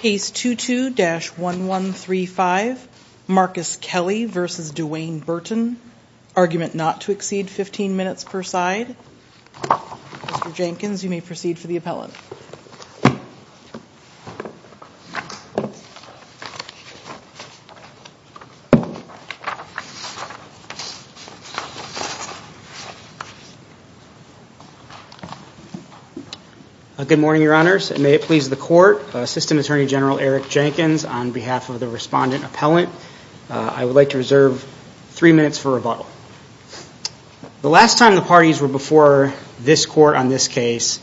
Case 22-1135 Marcus Kelley v. DeWayne Burton Argument not to exceed fifteen minutes per side Mr. Jenkins, you may proceed for the appellate Good morning, Your Honors, and may it please the Court, Assistant Attorney General Eric Jenkins, on behalf of the Respondent Appellant, I would like to reserve three minutes for rebuttal. The last time the parties were before this Court on this case,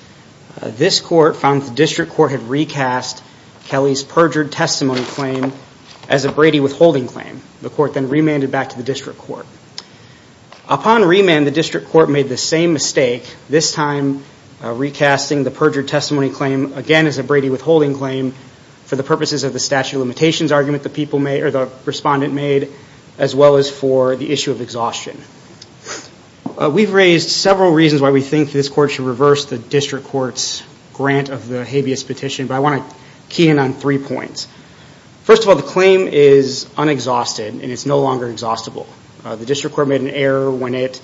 this Court found that the District Court had recast Kelley's perjured testimony claim as a Brady withholding claim. The Court then remanded back to the District Court. Upon remand, the District Court made the same mistake, this time recasting the perjured testimony claim again as a Brady withholding claim for the purposes of the statute of limitations argument the Respondent made, as well as for the issue of exhaustion. We've raised several reasons why we think this Court should reverse the District Court's grant of the habeas petition, but I want to key in on three points. First of all, the claim is unexhausted and it's no longer exhaustible. The District Court made an error when it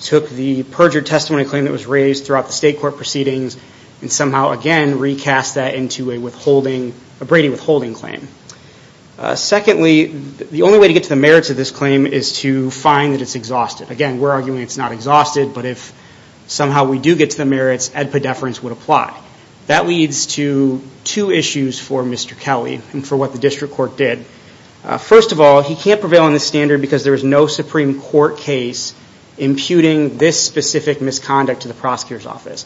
took the perjured testimony claim that was raised throughout the State Court proceedings and somehow, again, recast that into a Brady withholding claim. Secondly, the only way to get to the merits of this claim is to find that it's exhausted. Again, we're arguing it's not exhausted, but if somehow we do get to the merits, ad pedeference would apply. That leads to two issues for Mr. Kelly and for what the District Court did. First of all, he can't prevail on this standard because there is no Supreme Court case imputing this specific misconduct to the prosecutor's office.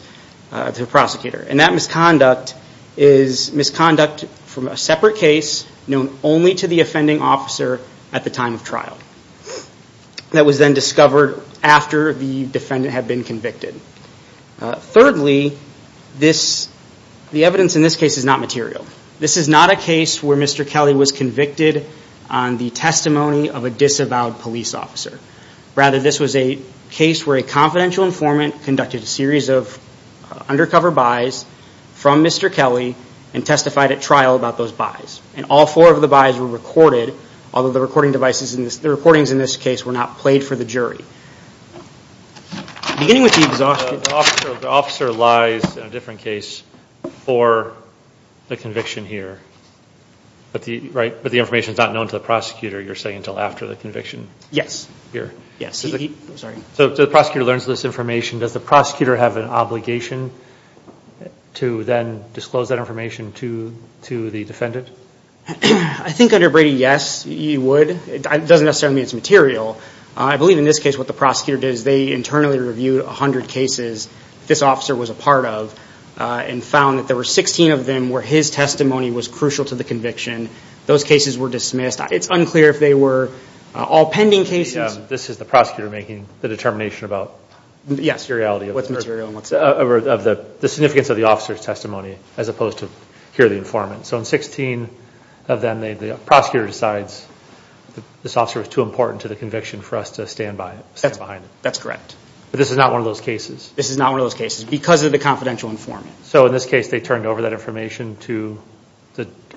That misconduct is misconduct from a separate case known only to the offending officer at the time of trial that was then discovered after the defendant had been convicted. Thirdly, the evidence in this case is not material. This is not a case where Mr. Kelly was convicted on the testimony of a disavowed police officer. Rather, this was a case where a confidential informant conducted a series of undercover buys from Mr. Kelly and testified at trial about those buys. All four of the buys were recorded, although the recordings in this case were not played for the jury. Beginning with the exhaustion. The officer lies in a different case for the conviction here, but the information is not known to the prosecutor, you're saying, until after the conviction? Yes. So the prosecutor learns this information. Does the prosecutor have an obligation to then disclose that information to the defendant? I think under Brady, yes, he would. It doesn't necessarily mean it's material. I believe in this case what the prosecutor did is they internally reviewed 100 cases this officer was a part of and found that there were 16 of them where his testimony was crucial to the conviction. Those cases were dismissed. It's unclear if they were all pending cases. This is the prosecutor making the determination about? Yes. The reality of the significance of the officer's testimony as opposed to hear the informant. So in 16 of them, the prosecutor decides this officer was too important to the conviction for us to stand behind it. That's correct. But this is not one of those cases? This is not one of those cases because of the confidential informant. So in this case they turned over that information to,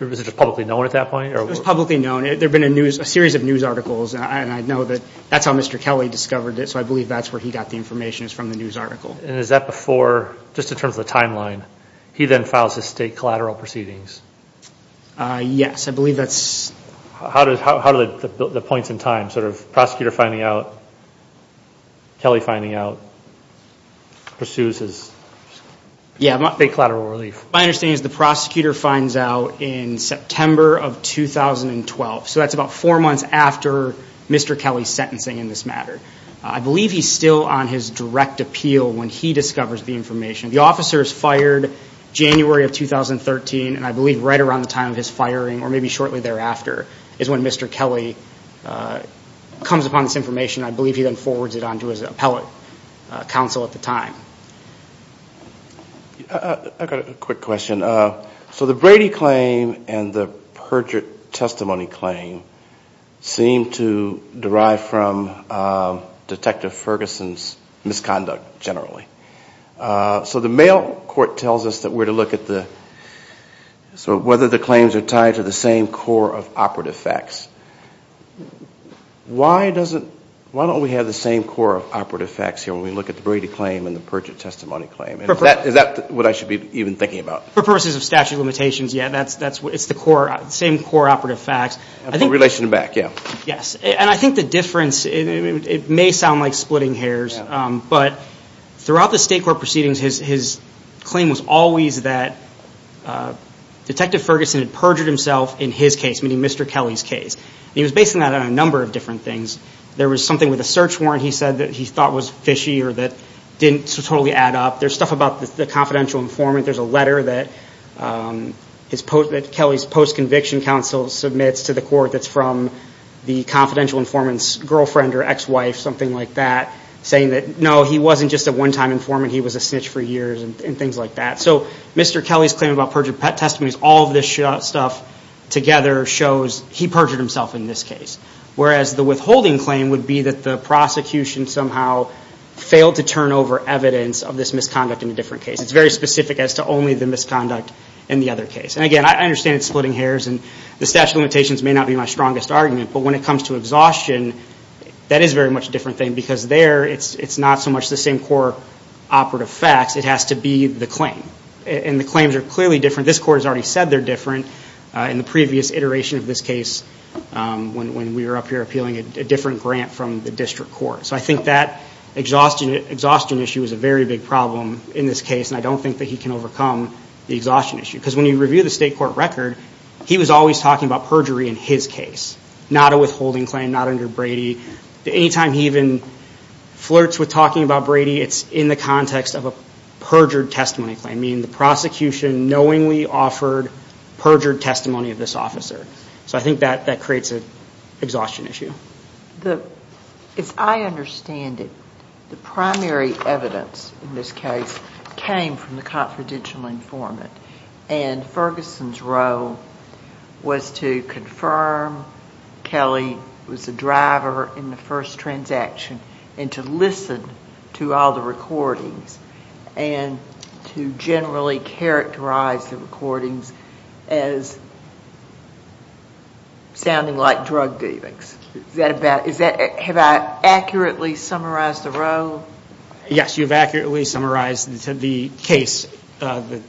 was it publicly known at that point? It was publicly known. There had been a series of news articles, and I know that that's how Mr. Kelly discovered it, so I believe that's where he got the information is from the news article. And is that before, just in terms of the timeline, he then files his state collateral proceedings? Yes, I believe that's. How do the points in time, sort of prosecutor finding out, Kelly finding out, pursues his state collateral relief? My understanding is the prosecutor finds out in September of 2012, so that's about four months after Mr. Kelly's sentencing in this matter. I believe he's still on his direct appeal when he discovers the information. The officer is fired January of 2013, and I believe right around the time of his firing, or maybe shortly thereafter, is when Mr. Kelly comes upon this information. I believe he then forwards it on to his appellate counsel at the time. I've got a quick question. So the Brady claim and the Perjury Testimony claim seem to derive from Detective Ferguson's misconduct, generally. So the mail court tells us that we're to look at whether the claims are tied to the same core of operative facts. Why don't we have the same core of operative facts here when we look at the Brady claim and the Perjury Testimony claim? Is that what I should be even thinking about? For purposes of statute of limitations, yeah, it's the same core operative facts. For relation to back, yeah. Yes, and I think the difference, it may sound like splitting hairs, but throughout the state court proceedings, his claim was always that Detective Ferguson had perjured himself in his case, meaning Mr. Kelly's case. He was basing that on a number of different things. There was something with a search warrant he said that he thought was fishy or that didn't totally add up. There's stuff about the confidential informant. There's a letter that Kelly's post-conviction counsel submits to the court that's from the confidential informant's girlfriend or ex-wife, something like that, saying that, no, he wasn't just a one-time informant. He was a snitch for years and things like that. So Mr. Kelly's claim about Perjury Testimony, all of this stuff together shows he perjured himself in this case, whereas the withholding claim would be that the prosecution somehow failed to turn over evidence of this misconduct in a different case. It's very specific as to only the misconduct in the other case. And, again, I understand it's splitting hairs and the statute of limitations may not be my strongest argument, but when it comes to exhaustion, that is very much a different thing because there it's not so much the same core operative facts. It has to be the claim, and the claims are clearly different. This court has already said they're different in the previous iteration of this case when we were up here appealing a different grant from the district court. So I think that exhaustion issue is a very big problem in this case, and I don't think that he can overcome the exhaustion issue because when you review the state court record, he was always talking about perjury in his case, not a withholding claim, not under Brady. Anytime he even flirts with talking about Brady, it's in the context of a perjured testimony claim, meaning the prosecution knowingly offered perjured testimony of this officer. So I think that creates an exhaustion issue. As I understand it, the primary evidence in this case came from the confidential informant, and Ferguson's role was to confirm Kelly was the driver in the first transaction and to listen to all the recordings and to generally characterize the recordings as sounding like drug dealings. Is that about, is that, have I accurately summarized the role? Yes, you've accurately summarized the case, the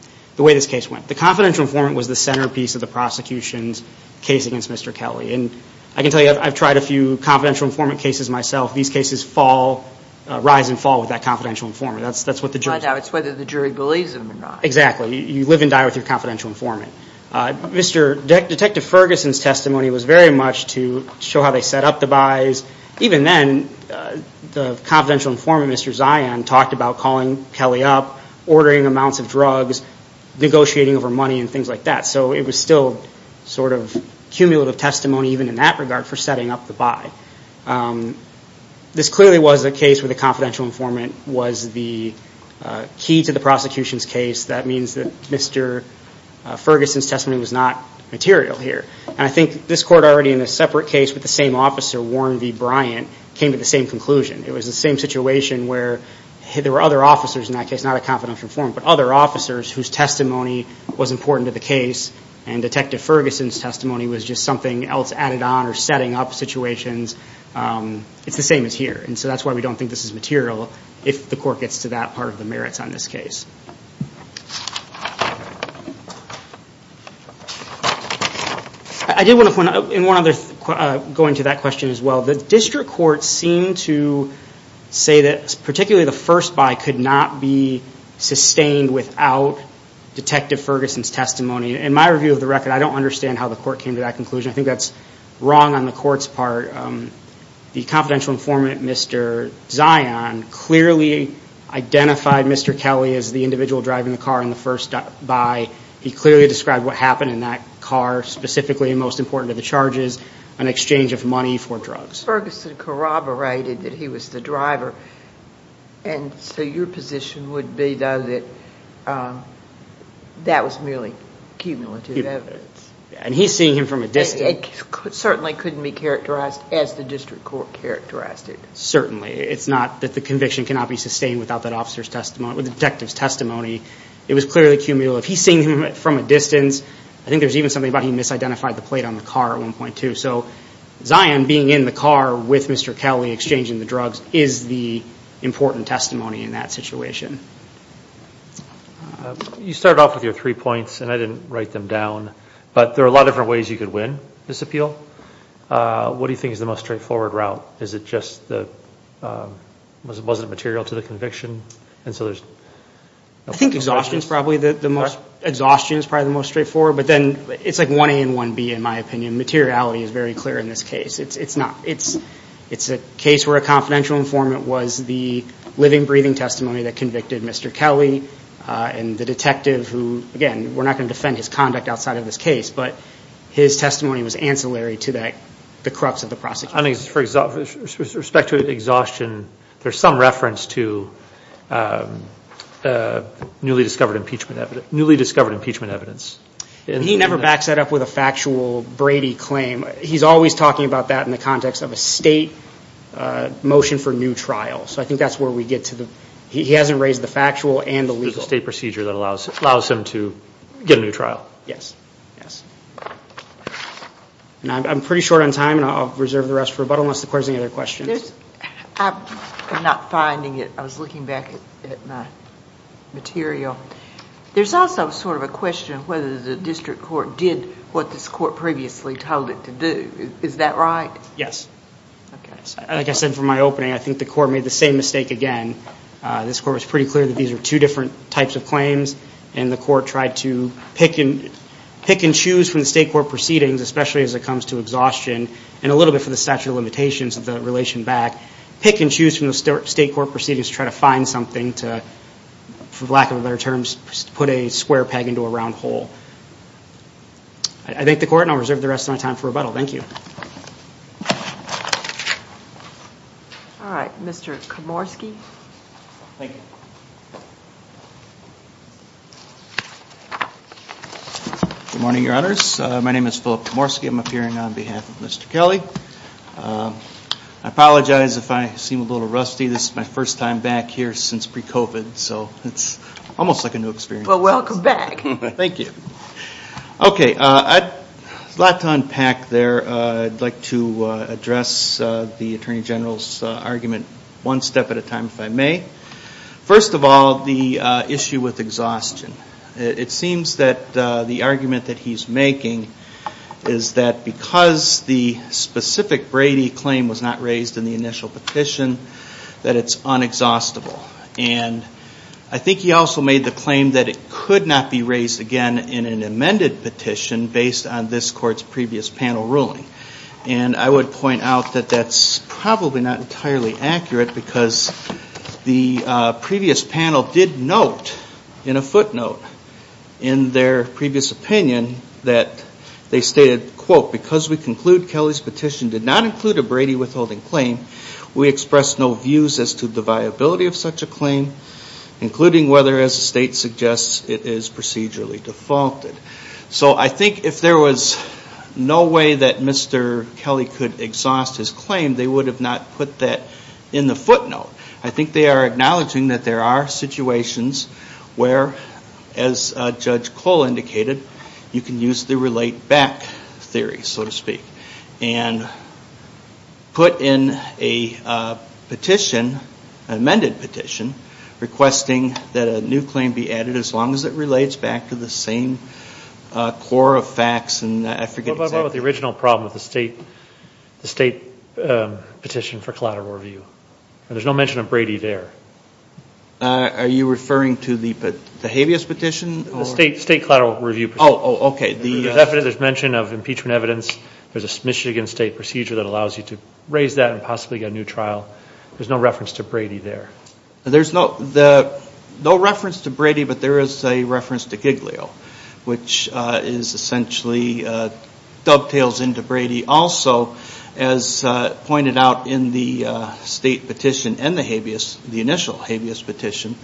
way this case went. The confidential informant was the centerpiece of the prosecution's case against Mr. Kelly, and I can tell you I've tried a few confidential informant cases myself. These cases fall, rise and fall with that confidential informant. That's what the jury says. It's whether the jury believes them or not. Exactly. You live and die with your confidential informant. Detective Ferguson's testimony was very much to show how they set up the buys. Even then, the confidential informant, Mr. Zion, talked about calling Kelly up, ordering amounts of drugs, negotiating over money and things like that. So it was still sort of cumulative testimony even in that regard for setting up the buy. This clearly was a case where the confidential informant was the key to the prosecution's case. That means that Mr. Ferguson's testimony was not material here. And I think this court, already in a separate case with the same officer, Warren v. Bryant, came to the same conclusion. It was the same situation where there were other officers in that case, not a confidential informant, but other officers whose testimony was important to the case, and Detective Ferguson's testimony was just something else added on or setting up situations. It's the same as here, and so that's why we don't think this is material, if the court gets to that part of the merits on this case. I did want to point out, and one other going to that question as well, the district courts seem to say that particularly the first buy could not be sustained without Detective Ferguson's testimony. In my review of the record, I don't understand how the court came to that conclusion. I think that's wrong on the court's part. The confidential informant, Mr. Zion, clearly identified Mr. Kelly as the individual driving the car in the first buy. He clearly described what happened in that car, specifically, and most important of the charges, an exchange of money for drugs. But Ferguson corroborated that he was the driver, and so your position would be, though, that that was merely cumulative evidence. And he's seeing him from a distance. It certainly couldn't be characterized as the district court characterized it. Certainly. It's not that the conviction cannot be sustained without that detective's testimony. It was clearly cumulative. He's seeing him from a distance. I think there's even something about he misidentified the plate on the car at one point, too. So Zion being in the car with Mr. Kelly exchanging the drugs is the important testimony in that situation. You started off with your three points, and I didn't write them down. But there are a lot of different ways you could win this appeal. What do you think is the most straightforward route? Was it material to the conviction? I think exhaustion is probably the most straightforward. But then it's like 1A and 1B, in my opinion. Materiality is very clear in this case. It's a case where a confidential informant was the living, breathing testimony that convicted Mr. Kelly, and the detective who, again, we're not going to defend his conduct outside of this case, but his testimony was ancillary to the crux of the prosecution. With respect to exhaustion, there's some reference to newly discovered impeachment evidence. He never backs that up with a factual Brady claim. He's always talking about that in the context of a state motion for new trial. So I think that's where we get to. He hasn't raised the factual and the legal. It's a state procedure that allows him to get a new trial. Yes. I'm pretty short on time, and I'll reserve the rest for rebuttal unless the court has any other questions. I'm not finding it. I was looking back at my material. There's also sort of a question of whether the district court did what this court previously told it to do. Is that right? Yes. Okay. Like I said from my opening, I think the court made the same mistake again. This court was pretty clear that these were two different types of claims, and the court tried to pick and choose from the state court proceedings, especially as it comes to exhaustion, and a little bit for the statute of limitations of the relation back, pick and choose from the state court proceedings to try to find something to, for lack of better terms, put a square peg into a round hole. I thank the court, and I'll reserve the rest of my time for rebuttal. Thank you. All right. Mr. Komorski. Thank you. Good morning, Your Honors. My name is Philip Komorski. I'm appearing on behalf of Mr. Kelly. I apologize if I seem a little rusty. This is my first time back here since pre-COVID, so it's almost like a new experience. Well, welcome back. Thank you. Okay. There's a lot to unpack there. I'd like to address the Attorney General's argument one step at a time, if I may. First of all, the issue with exhaustion. It seems that the argument that he's making is that because the specific Brady claim was not raised in the initial petition, that it's unexhaustible. I think he also made the claim that it could not be raised again in an amended petition based on this court's previous panel ruling. I would point out that that's probably not entirely accurate because the previous panel did note in a footnote in their previous opinion that because we conclude Kelly's petition did not include a Brady withholding claim, we express no views as to the viability of such a claim, including whether, as the state suggests, it is procedurally defaulted. So I think if there was no way that Mr. Kelly could exhaust his claim, they would have not put that in the footnote. I think they are acknowledging that there are situations where, as Judge Cole indicated, you can use the relate back theory, so to speak, and put in a petition, an amended petition, requesting that a new claim be added as long as it relates back to the same core of facts. What about the original problem of the state petition for collateral review? There's no mention of Brady there. Are you referring to the habeas petition? The state collateral review petition. Oh, okay. There's mention of impeachment evidence. There's a Michigan state procedure that allows you to raise that and possibly get a new trial. There's no reference to Brady there. There's no reference to Brady, but there is a reference to Giglio, which is essentially, dovetails into Brady. Also, as pointed out in the state petition and the habeas, the initial habeas petition,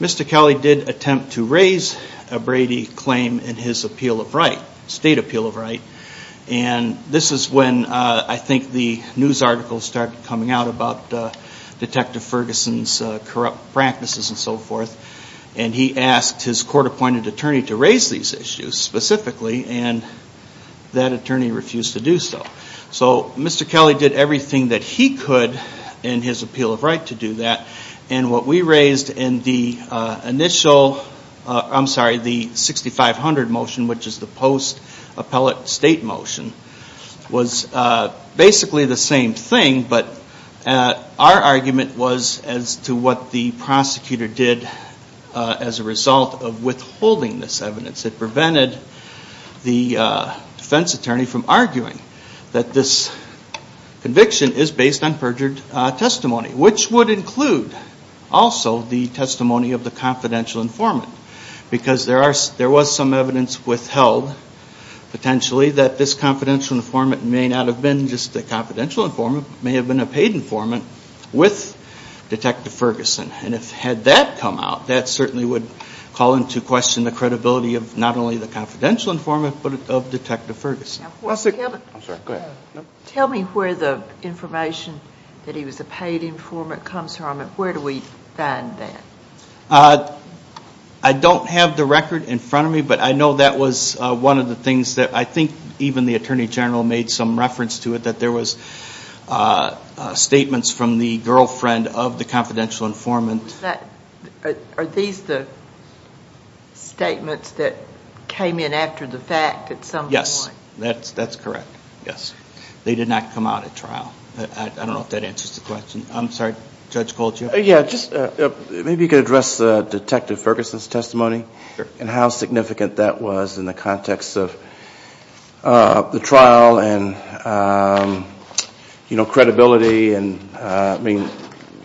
Mr. Kelly did attempt to raise a Brady claim in his appeal of right, and this is when I think the news articles started coming out about Detective Ferguson's corrupt practices and so forth, and he asked his court-appointed attorney to raise these issues specifically, and that attorney refused to do so. So Mr. Kelly did everything that he could in his appeal of right to do that, and what we raised in the initial, I'm sorry, the 6500 motion, which is the post-appellate state motion, was basically the same thing, but our argument was as to what the prosecutor did as a result of withholding this evidence. It prevented the defense attorney from arguing that this conviction is based on perjured testimony, which would include also the testimony of the confidential informant, because there was some evidence withheld, potentially, that this confidential informant may not have been just a confidential informant, but may have been a paid informant with Detective Ferguson, and had that come out, that certainly would call into question the credibility of not only the confidential informant, but of Detective Ferguson. Tell me where the information that he was a paid informant comes from, and where do we find that? I don't have the record in front of me, but I know that was one of the things that I think even the Attorney General made some reference to it, that there was statements from the girlfriend of the confidential informant. Are these the statements that came in after the fact at some point? Yes, that's correct. They did not come out at trial. I don't know if that answers the question. I'm sorry, Judge Goldgear. Maybe you could address Detective Ferguson's testimony, and how significant that was in the context of the trial, and credibility.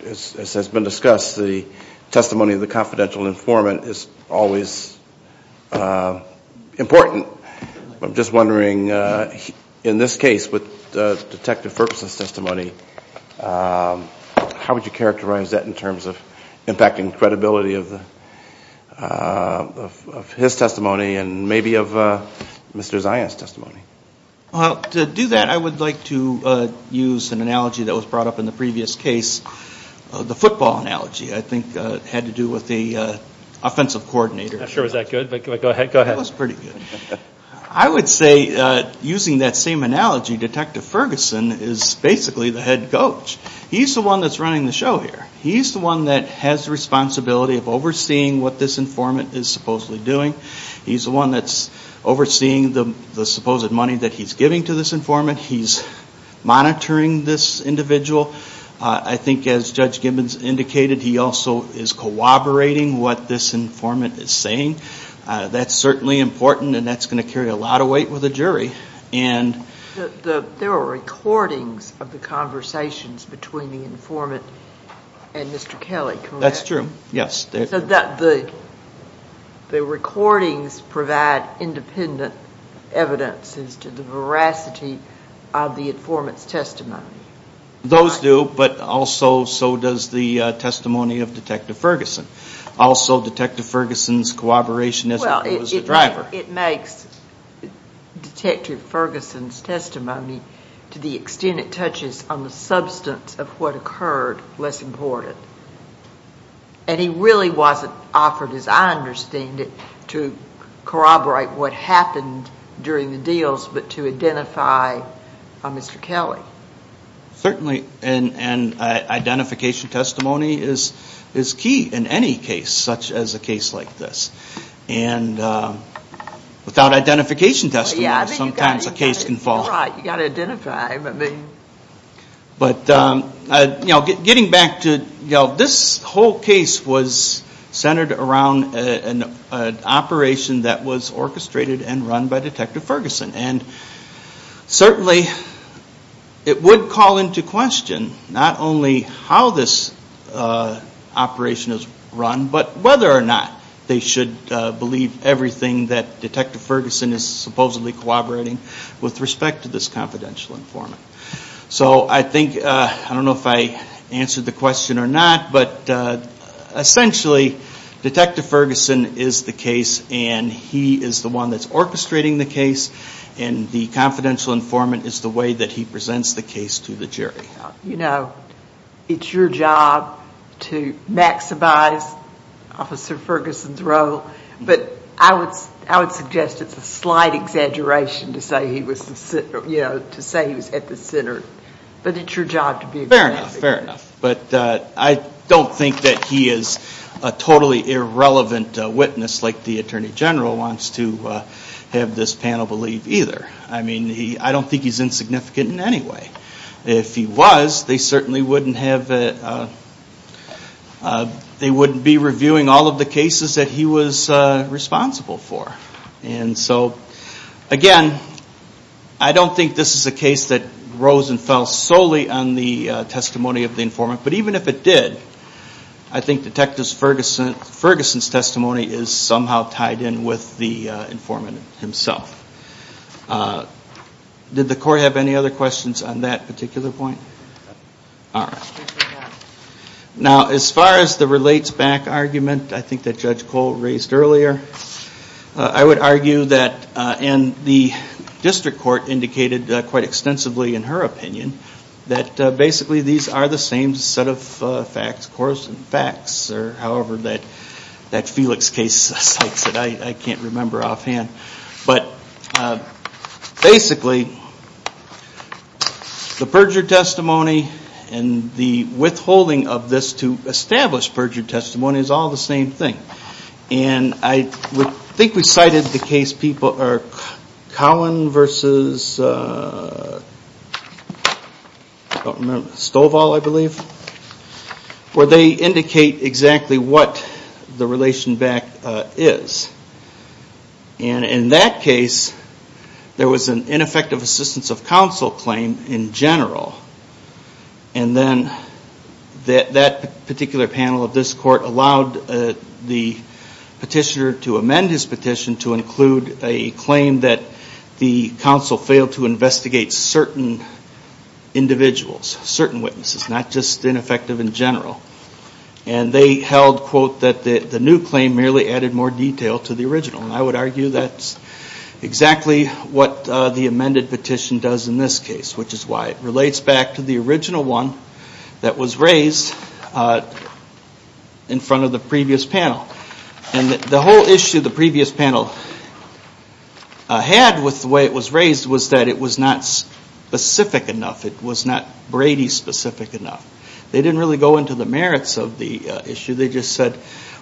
As has been discussed, the testimony of the confidential informant is always important. I was wondering, in this case, with Detective Ferguson's testimony, how would you characterize that in terms of impacting credibility of his testimony, and maybe of Mr. Zion's testimony? To do that, I would like to use an analogy that was brought up in the previous case, the football analogy. I think it had to do with the offensive coordinator. That was pretty good. I would say, using that same analogy, Detective Ferguson is basically the head coach. He's the one that's running the show here. He's the one that has the responsibility of overseeing what this informant is supposedly doing. He's the one that's overseeing the supposed money that he's giving to this informant. He's monitoring this individual. I think, as Judge Gibbons indicated, he also is corroborating what this informant is saying. That's certainly important, and that's going to carry a lot of weight with the jury. There are recordings of the conversations between the informant and Mr. Kelly. That's true, yes. The recordings provide independent evidences to the veracity of the informant's testimony. Those do, but also so does the testimony of Detective Ferguson. Also, Detective Ferguson's corroboration as a driver. It makes Detective Ferguson's testimony, to the extent it touches on the substance of what occurred, less important. He really wasn't offered, as I understand it, to corroborate what happened during the deals, but to identify Mr. Kelly. Certainly, identification testimony is key in any case, such as a case like this. Without identification testimony, sometimes a case can fall. This whole case was centered around an operation that was orchestrated and run by Detective Ferguson. Certainly, it would call into question not only how this operation is run, but whether or not they should believe everything that Detective Ferguson is supposedly corroborating with respect to this confidential informant. I don't know if I answered the question or not, but essentially, Detective Ferguson is the case, and he is the one that's orchestrating the case. The confidential informant is the way that he presents the case to the jury. You know, it's your job to maximize Officer Ferguson's role, but I would suggest it's a slight exaggeration to say he was at the center, but it's your job to be aggressive. Fair enough, fair enough, but I don't think that he is a totally irrelevant witness like the Attorney General wants to have this panel believe either. I mean, I don't think he's insignificant in any way. If he was, they certainly wouldn't be reviewing all of the cases that he was responsible for. And so, again, I don't think this is a case that rose and fell solely on the testimony of the informant, but even if it did, I think Detective Ferguson's testimony is somehow tied in with the informant himself. Did the court have any other questions on that particular point? All right. Now, as far as the relates back argument, I think that Judge Cole raised earlier, I would argue that, and the district court indicated quite extensively in her opinion, that basically these are the same set of facts, course and facts, or however that Felix case cites it. I can't remember offhand. But basically, the perjured testimony and the withholding of this to establish perjured testimony is all the same thing. And I think we cited the case Cowan v. Stovall, I believe, where they indicate exactly what the relation back is. And in that case, there was an ineffective assistance of counsel claim in general. And then that particular panel of this court allowed the petitioner to amend his petition to include a claim that the counsel failed to investigate certain individuals, certain witnesses, not just ineffective in general. And they held, quote, that the new claim merely added more detail to the original. And I would argue that's exactly what the amended petition does in this case, which is why it relates back to the original one that was raised in front of the previous panel. And the whole issue the previous panel had with the way it was raised was that it was not specific enough. It was not Brady specific enough. They didn't really go into the merits of the issue. They just said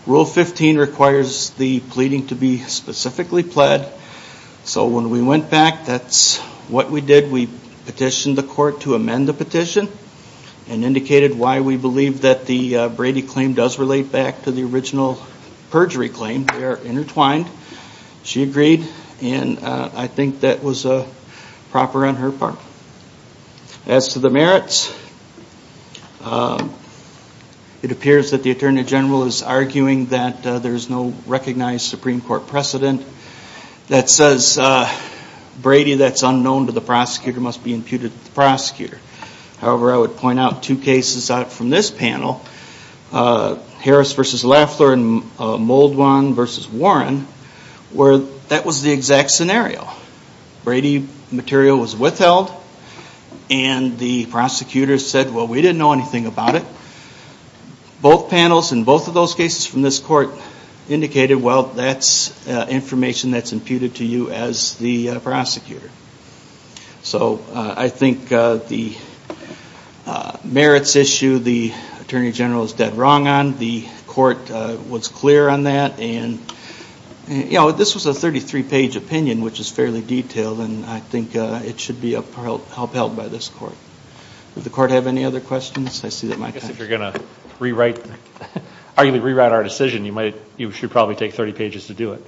Rule 15 requires the pleading to be specifically pled. So when we went back, that's what we did. We petitioned the court to amend the petition and indicated why we believe that the Brady claim does relate back to the original perjury claim. They are intertwined. She agreed. And I think that was proper on her part. As to the merits, it appears that the Attorney General is arguing that there's no recognized Supreme Court precedent that says Brady that's unknown to the prosecutor must be imputed to the prosecutor. However, I would point out two cases from this panel, Harris v. Laffler and Muldwan v. Warren, where that was the exact scenario. Brady material was withheld and the prosecutor said, well, we didn't know anything about it. And both panels in both of those cases from this court indicated, well, that's information that's imputed to you as the prosecutor. So I think the merits issue the Attorney General is dead wrong on. The court was clear on that. And this was a 33-page opinion, which is fairly detailed, and I think it should be upheld by this court. Does the court have any other questions? I see that my time is up. I guess if you're going to arguably rewrite our decision, you should probably take 30 pages to do it.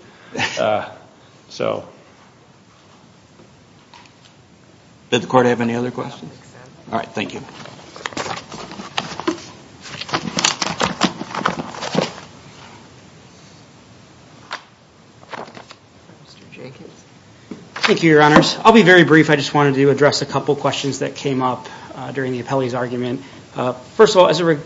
Did the court have any other questions? All right. Thank you. Thank you, Your Honors. I'll be very brief. I just wanted to address a couple questions that came up during the appellee's argument. First of all, as it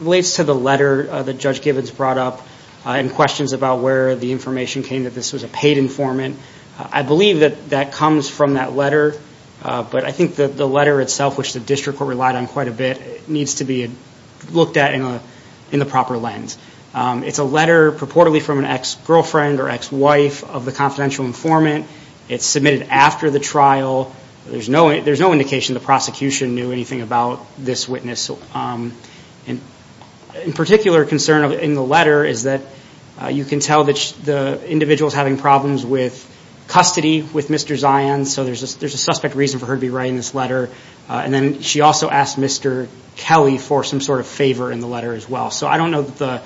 relates to the letter that Judge Gibbons brought up and questions about where the information came that this was a paid informant, I believe that that comes from that letter. But I think that the letter itself, which the district court relied on quite a bit, needs to be looked at in the proper lens. It's a letter purportedly from an ex-girlfriend or ex-wife of the confidential informant. It's submitted after the trial. There's no indication the prosecution knew anything about this witness. In particular, concern in the letter is that you can tell that the individual is having problems with custody with Mr. Zions, so there's a suspect reason for her to be writing this letter. And then she also asked Mr. Kelly for some sort of favor in the letter as well. So I don't know that the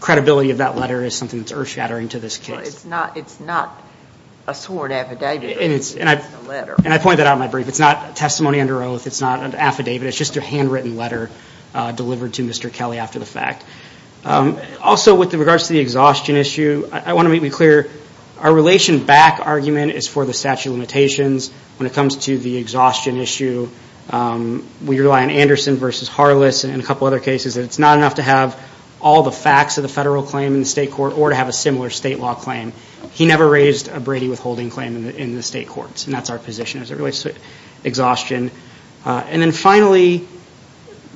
credibility of that letter is something that's earth-shattering to this case. But it's not a sworn affidavit. And I point that out in my brief. It's not testimony under oath. It's not an affidavit. It's just a handwritten letter delivered to Mr. Kelly after the fact. Also, with regards to the exhaustion issue, I want to make it clear our relation back argument is for the statute of limitations. When it comes to the exhaustion issue, we rely on Anderson v. Harless and a couple other cases. It's not enough to have all the facts of the federal claim in the state court or to have a similar state law claim. He never raised a Brady withholding claim in the state courts, and that's our position as it relates to exhaustion. And then finally,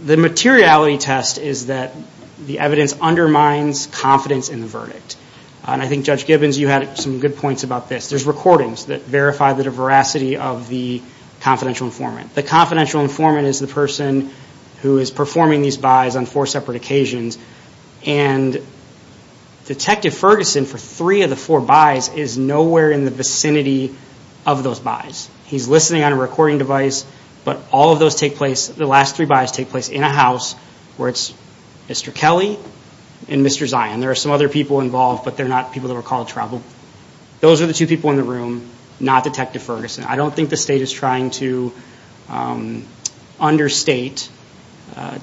the materiality test is that the evidence undermines confidence in the verdict. And I think, Judge Gibbons, you had some good points about this. There's recordings that verify the veracity of the confidential informant. The confidential informant is the person who is performing these buys on four separate occasions. And Detective Ferguson, for three of the four buys, is nowhere in the vicinity of those buys. He's listening on a recording device, but all of those take place, the last three buys take place in a house, where it's Mr. Kelly and Mr. Zion. There are some other people involved, but they're not people that were called troubled. Those are the two people in the room, not Detective Ferguson. I don't think the state is trying to understate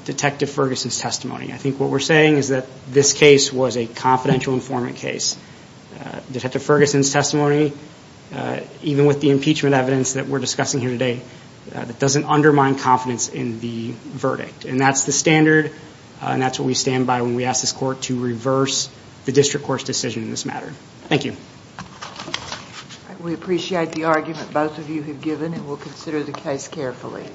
Detective Ferguson's testimony. I think what we're saying is that this case was a confidential informant case. Detective Ferguson's testimony, even with the impeachment evidence that we're discussing here today, doesn't undermine confidence in the verdict. And that's the standard, and that's what we stand by when we ask this court to reverse the district court's decision in this matter. Thank you. We appreciate the argument both of you have given, and we'll consider the case carefully.